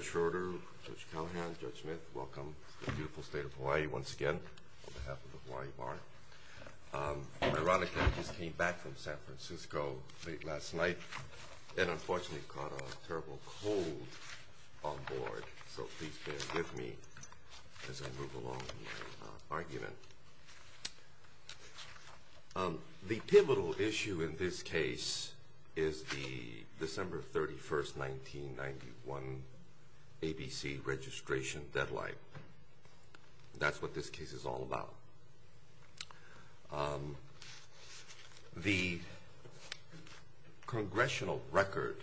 Judge Schroeder, Judge Callahan, Judge Smith, welcome to the beautiful state of Hawaii once again on behalf of the Hawaii Bar. Ironically, I just came back from San Francisco late last night and unfortunately caught a terrible cold on board, so please bear with me as I move along in my argument. The pivotal issue in this case is the December 31, 1991, ABC registration deadline. That's what this case is all about. The congressional record,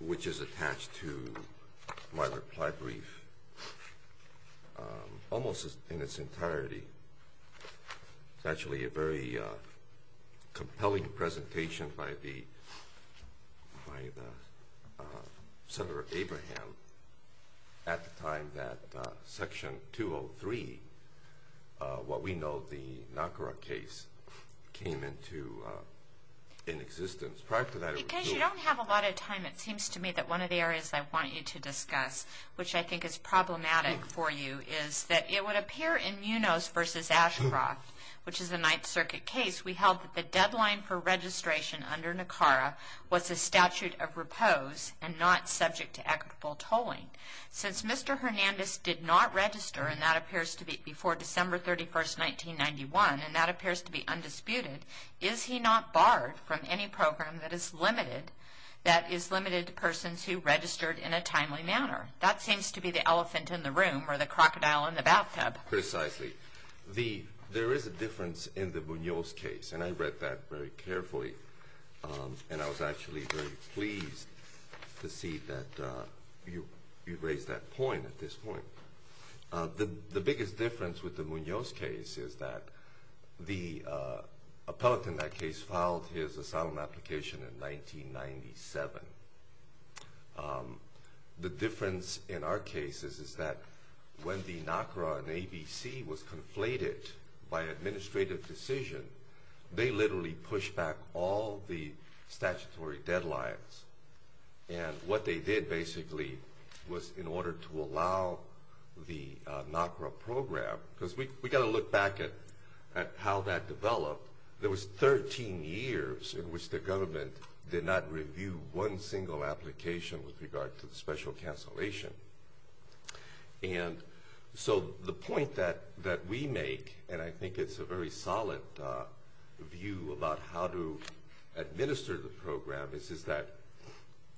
which is attached to my reply brief almost in its entirety, is actually a very compelling presentation by Senator Abraham at the time that Section 203, what we know the NACRA case, came into existence. Because you don't have a lot of time, it seems to me that one of the areas I want you to discuss, which I think is problematic for you, is that it would appear in Munos v. Ashcroft, which is a Ninth Circuit case, we held that the deadline for registration under NACRA was a statute of repose and not subject to equitable tolling. Since Mr. Hernandez did not register, and that appears to be before December 31, 1991, and that appears to be undisputed, is he not barred from any program that is limited to persons who registered in a timely manner? That seems to be the elephant in the room or the crocodile in the bathtub. Precisely. There is a difference in the Munos case, and I read that very carefully, and I was actually very pleased to see that you raised that point at this point. The biggest difference with the Munos case is that the appellate in that case filed his asylum application in 1997. The difference in our case is that when the NACRA and ABC was conflated by administrative decision, they literally pushed back all the statutory deadlines. And what they did, basically, was in order to allow the NACRA program, because we got to look back at how that developed, there was 13 years in which the government did not review one single application with regard to the special cancellation. And so the point that we make, and I think it's a very solid view about how to administer the program, is that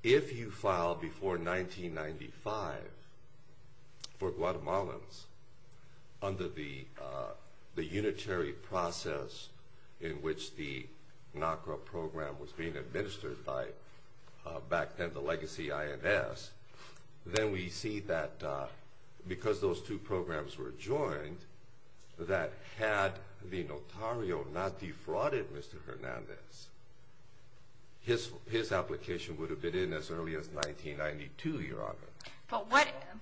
if you file before 1995 for Guatemalans under the unitary process in which the NACRA program was being administered by back then the legacy INS, then we see that because those two programs were joined, that had the notario not defrauded Mr. Hernandez, his application would have been in as early as 1992, Your Honor.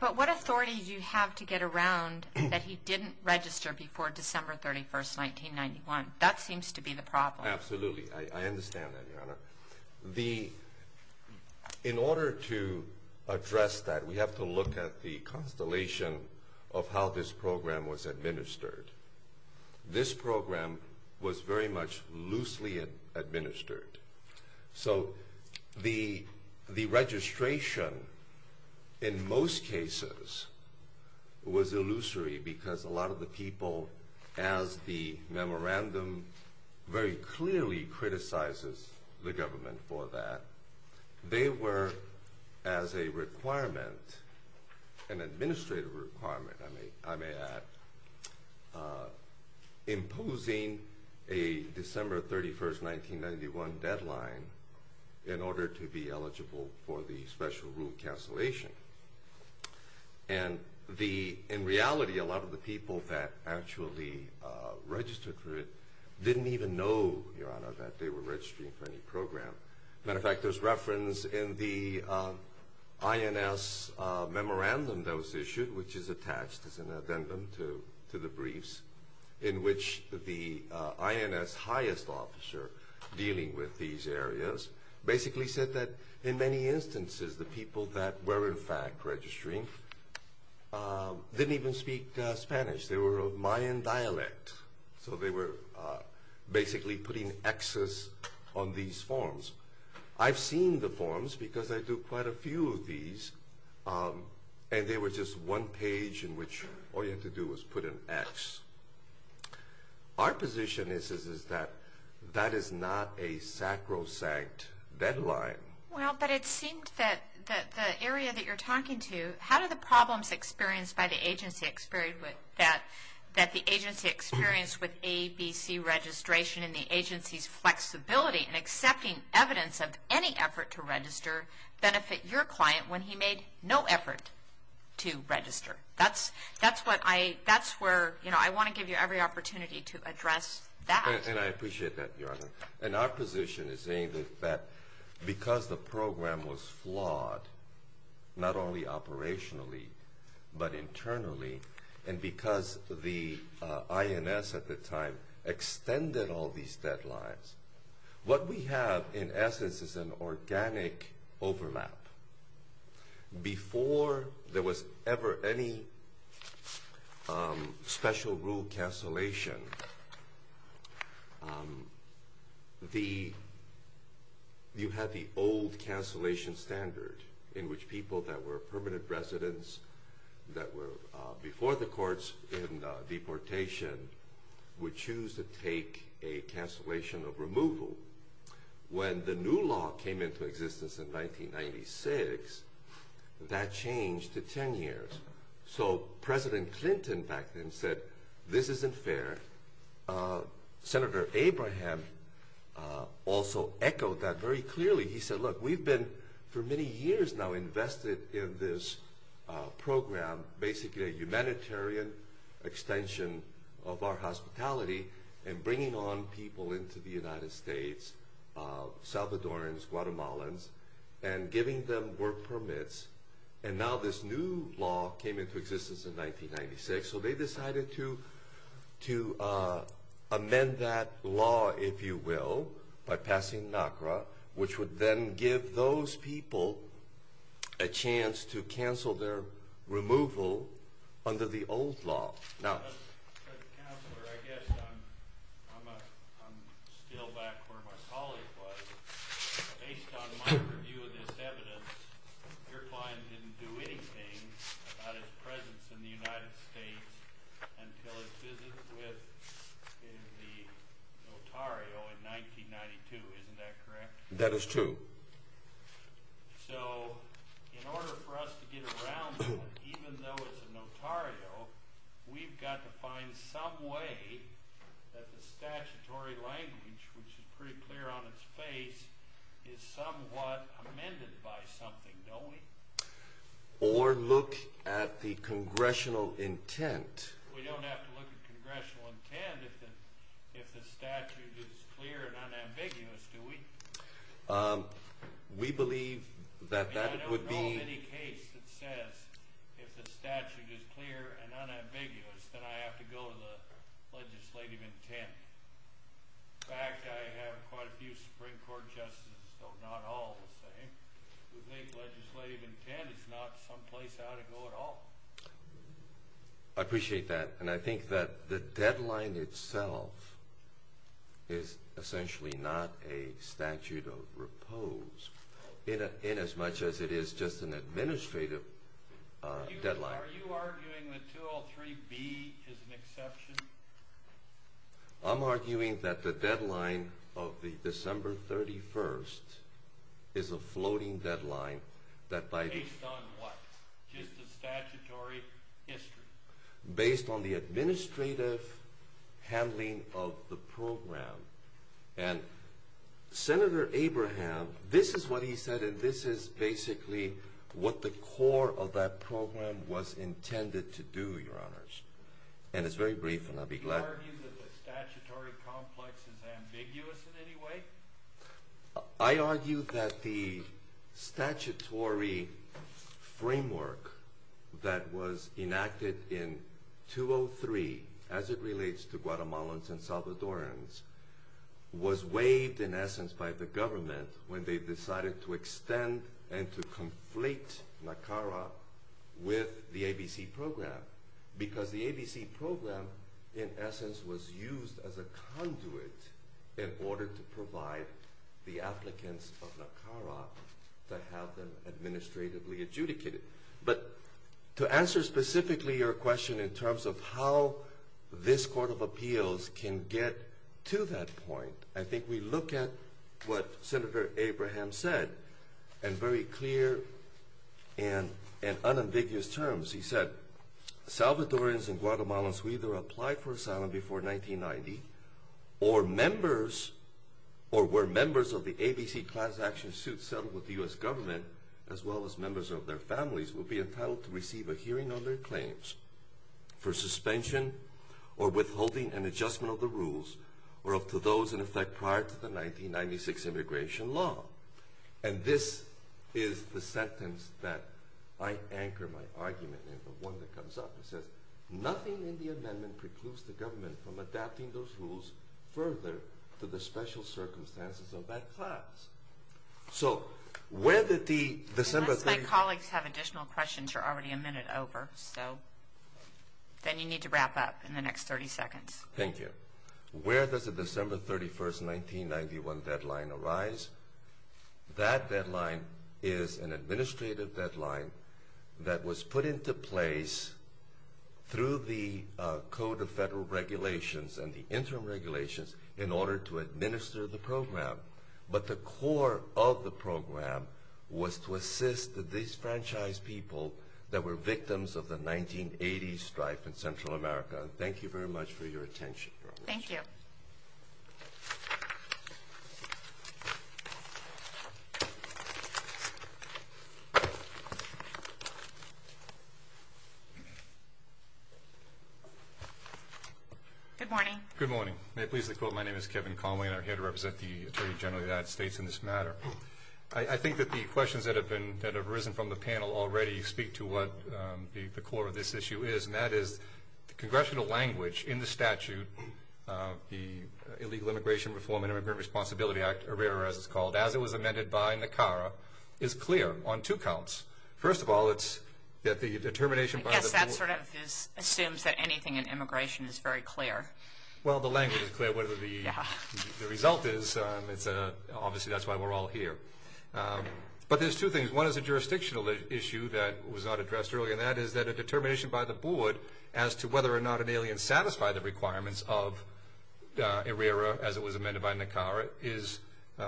But what authority do you have to get around that he didn't register before December 31st, 1991? That seems to be the problem. Absolutely. I understand that, Your Honor. In order to address that, we have to look at the constellation of how this program was administered. This program was very much loosely administered. So the registration, in most cases, was illusory because a lot of the people, as the memorandum very clearly criticizes the government for that, they were, as a requirement, an administrative requirement, I may add, imposing a December 31st, 1991 deadline in order to be eligible for the special rule cancellation. And in reality, a lot of the people that actually registered for it didn't even know, Your Honor, that they were registering for any program. As a matter of fact, there's reference in the INS memorandum that was issued, which is attached as an addendum to the briefs, in which the INS highest officer dealing with these areas basically said that, in many instances, the people that were, in fact, registering didn't even speak Spanish. They were of Mayan dialect. So they were basically putting Xs on these forms. I've seen the forms because I do quite a few of these, and they were just one page in which all you had to do was put an X. Our position is that that is not a sacrosanct deadline. Well, but it seemed that the area that you're talking to, how did the problems experienced by the agency experience with ABC registration and the agency's flexibility in accepting evidence of any effort to register benefit your client when he made no effort to register? That's where I want to give you every opportunity to address that. And I appreciate that, Your Honor. And our position is saying that because the program was flawed, not only operationally but internally, and because the INS at the time extended all these deadlines, what we have, in essence, is an organic overlap. Before there was ever any special rule cancellation, you had the old cancellation standard in which people that were permanent residents that were before the courts in deportation would choose to take a cancellation of removal. When the new law came into existence in 1996, that changed to 10 years. So President Clinton back then said, this isn't fair. Senator Abraham also echoed that very clearly. He said, look, we've been for many years now invested in this program, basically a humanitarian extension of our hospitality and bringing on people into the United States, Salvadorans, Guatemalans, and giving them work permits. And now this new law came into existence in 1996. So they decided to amend that law, if you will, by passing NACRA, which would then give those people a chance to cancel their removal under the old law. Counselor, I guess I'm still back where my colleague was. Based on my review of this evidence, your client didn't do anything about his presence in the United States until his visit with the notario in 1992. Isn't that correct? That is true. So in order for us to get around that, even though it's a notario, we've got to find some way that the statutory language, which is pretty clear on its face, is somewhat amended by something, don't we? Or look at the congressional intent. We don't have to look at congressional intent if the statute is clear and unambiguous, do we? We believe that that would be… If the statute is clear and unambiguous, then I have to go to the legislative intent. In fact, I have quite a few Supreme Court justices, though not all the same, who think legislative intent is not some place I ought to go at all. I appreciate that. And I think that the deadline itself is essentially not a statute of repose inasmuch as it is just an administrative deadline. Are you arguing that 203B is an exception? I'm arguing that the deadline of December 31st is a floating deadline. Based on what? Just the statutory history? Based on the administrative handling of the program. And Senator Abraham, this is what he said, and this is basically what the core of that program was intended to do, Your Honors. And it's very brief, and I'll be glad… Do you argue that the statutory complex is ambiguous in any way? I argue that the statutory framework that was enacted in 203, as it relates to Guatemalans and Salvadorans, was waived in essence by the government when they decided to extend and to conflate NACARA with the ABC program, because the ABC program in essence was used as a conduit in order to provide the applicants of NACARA to have them administratively adjudicated. But to answer specifically your question in terms of how this Court of Appeals can get to that point, I think we look at what Senator Abraham said in very clear and unambiguous terms. He said, Salvadorans and Guatemalans who either applied for asylum before 1990 or were members of the ABC class action suit settled with the U.S. government as well as members of their families will be entitled to receive a hearing on their claims for suspension or withholding an adjustment of the rules or up to those in effect prior to the 1996 immigration law. And this is the sentence that I anchor my argument in, the one that comes up. It says, nothing in the amendment precludes the government from adapting those rules further to the special circumstances of that class. So where did the December 31st... Unless my colleagues have additional questions, you're already a minute over, so then you need to wrap up in the next 30 seconds. Thank you. Where does the December 31st, 1991 deadline arise? That deadline is an administrative deadline that was put into place through the Code of Federal Regulations and the interim regulations in order to administer the program. But the core of the program was to assist the disenfranchised people that were victims of the 1980 strife in Central America. Thank you very much for your attention. Thank you. Good morning. Good morning. May I please quote? My name is Kevin Conway, and I'm here to represent the Attorney General of the United States in this matter. I think that the questions that have arisen from the panel already speak to what the core of this issue is, and that is the congressional language in the statute, the Illegal Immigration Reform and Immigrant Responsibility Act, or IRERA as it's called, as it was amended by NACARA, is clear on two counts. First of all, it's that the determination... I guess that sort of assumes that anything in immigration is very clear. Well, the language is clear. Whatever the result is, obviously that's why we're all here. But there's two things. One is a jurisdictional issue that was not addressed earlier, and that is that a determination by the board as to whether or not an alien satisfied the requirements of IRERA as it was amended by NACARA is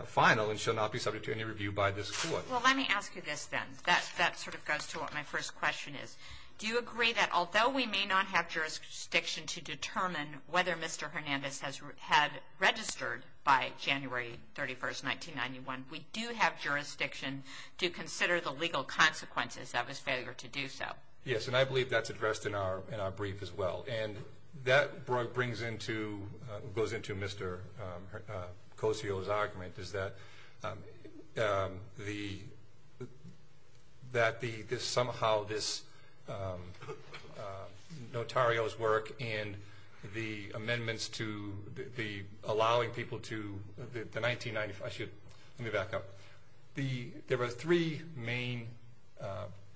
final and shall not be subject to any review by this court. Well, let me ask you this then. That sort of goes to what my first question is. Do you agree that although we may not have jurisdiction to determine whether Mr. Hernandez had registered by January 31, 1991, we do have jurisdiction to consider the legal consequences of his failure to do so? Yes, and I believe that's addressed in our brief as well. And that goes into Mr. Kosio's argument, is that somehow this notario's work and the amendments to allowing people to... Actually, let me back up. There were three main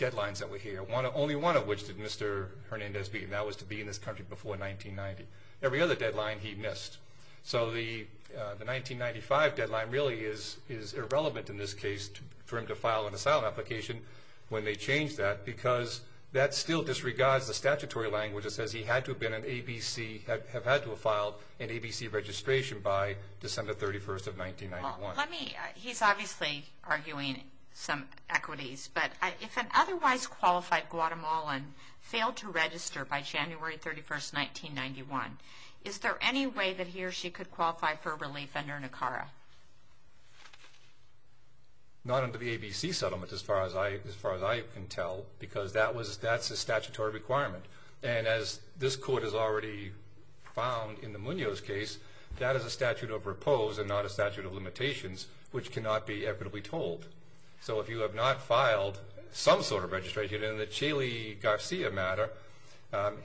deadlines that were here, only one of which did Mr. Hernandez meet, and that was to be in this country before 1990. Every other deadline he missed. So the 1995 deadline really is irrelevant in this case for him to file an asylum application when they change that because that still disregards the statutory language that says he had to have filed an ABC registration by December 31, 1991. He's obviously arguing some equities, but if an otherwise qualified Guatemalan failed to register by January 31, 1991, is there any way that he or she could qualify for relief under NACARA? Not under the ABC settlement, as far as I can tell, because that's a statutory requirement. And as this Court has already found in the Munoz case, that is a statute of repose and not a statute of limitations, which cannot be equitably told. So if you have not filed some sort of registration, in the Chaley-Garcia matter,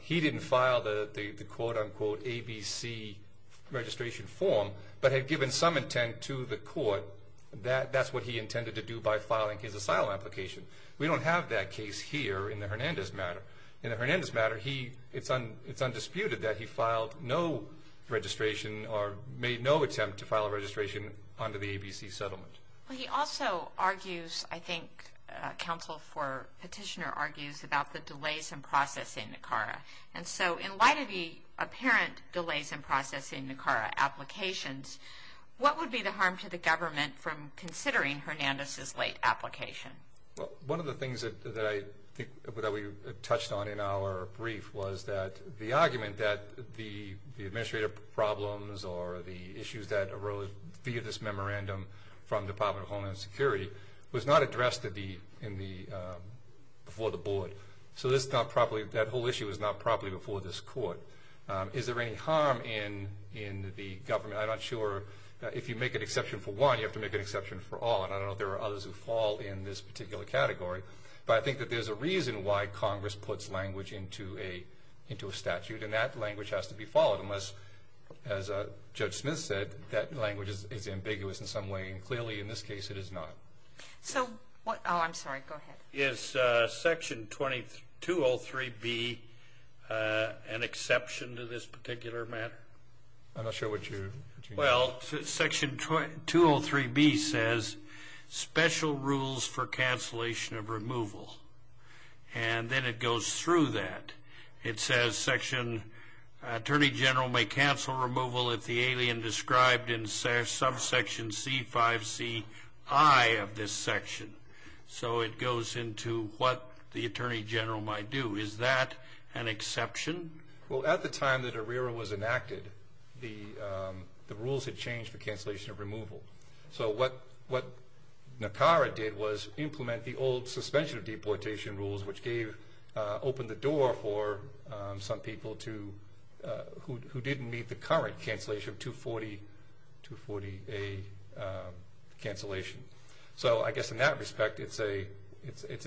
he didn't file the quote-unquote ABC registration form, but had given some intent to the Court that that's what he intended to do by filing his asylum application. We don't have that case here in the Hernandez matter. In the Hernandez matter, it's undisputed that he filed no registration or made no attempt to file a registration under the ABC settlement. Well, he also argues, I think counsel for petitioner argues, about the delays in processing NACARA. And so in light of the apparent delays in processing NACARA applications, what would be the harm to the government from considering Hernandez's late application? Well, one of the things that I think that we touched on in our brief was that the argument that the administrative problems or the issues that arose via this memorandum from the Department of Homeland Security was not addressed before the Board. So that whole issue was not properly before this Court. Is there any harm in the government? I'm not sure. If you make an exception for one, you have to make an exception for all, and I don't know if there are others who fall in this particular category. But I think that there's a reason why Congress puts language into a statute, and that language has to be followed, unless, as Judge Smith said, that language is ambiguous in some way, and clearly in this case it is not. So what – oh, I'm sorry, go ahead. Is Section 203B an exception to this particular matter? I'm not sure what you – Well, Section 203B says special rules for cancellation of removal, and then it goes through that. It says, Section – Attorney General may cancel removal if the alien described in subsection C-5C-I of this section. So it goes into what the Attorney General might do. Is that an exception? Well, at the time that ARERA was enacted, the rules had changed for cancellation of removal. So what NACARA did was implement the old suspension of deportation rules, which gave – opened the door for some people to – who didn't meet the current cancellation of 240A cancellation. So I guess in that respect, it's an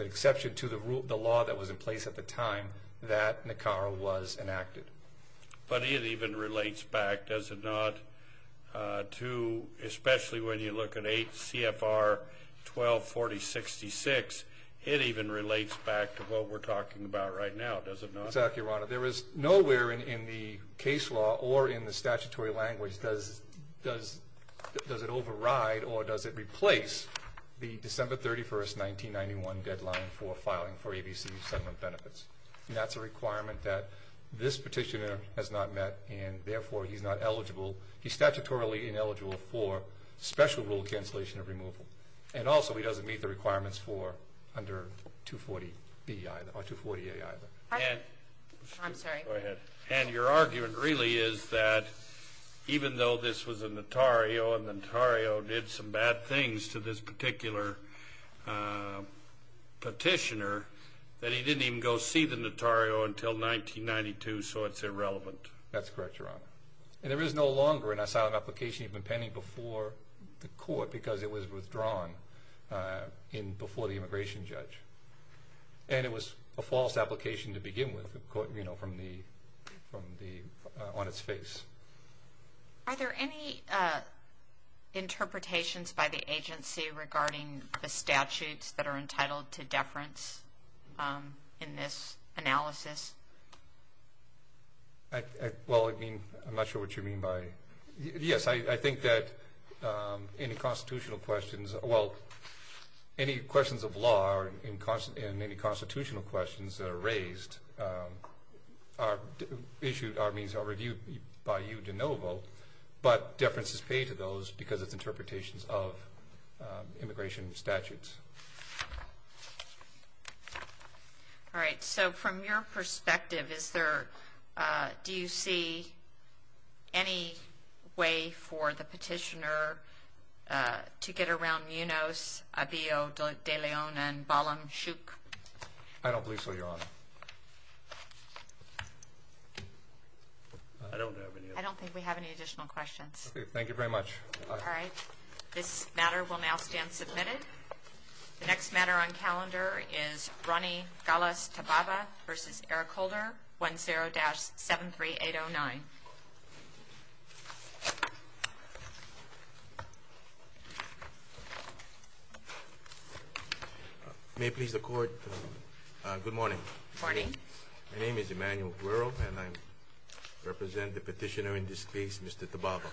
exception to the law that was in place at the time that NACARA was enacted. But it even relates back, does it not, to – especially when you look at 8 CFR 124066, it even relates back to what we're talking about right now, does it not? Exactly, Your Honor. There is nowhere in the case law or in the statutory language does it override or does it replace the December 31st, 1991 deadline for filing for ABC settlement benefits. And that's a requirement that this petitioner has not met, and therefore he's not eligible. He's statutorily ineligible for special rule cancellation of removal. And also he doesn't meet the requirements for under 240B or 240A either. I'm sorry. Go ahead. And your argument really is that even though this was a notario and the notario did some bad things to this particular petitioner, that he didn't even go see the notario until 1992, so it's irrelevant. That's correct, Your Honor. And there is no longer an asylum application even pending before the court because it was withdrawn before the immigration judge. And it was a false application to begin with on its face. Are there any interpretations by the agency regarding the statutes Well, I mean, I'm not sure what you mean by that. Yes, I think that any constitutional questions, well, any questions of law and any constitutional questions that are raised are issued or reviewed by you de novo, but deference is paid to those because it's interpretations of immigration statutes. All right, so from your perspective, do you see any way for the petitioner to get around Munoz, Abiyo de Leon, and Balam Shook? I don't believe so, Your Honor. I don't have any. I don't think we have any additional questions. Thank you very much. All right. This matter will now stand submitted. The next matter on calendar is Ronny Gallas-Tababa v. Eric Holder, 10-73809. May it please the Court, good morning. Good morning. My name is Emmanuel Guerro, and I represent the petitioner in this case, Mr. Tababa.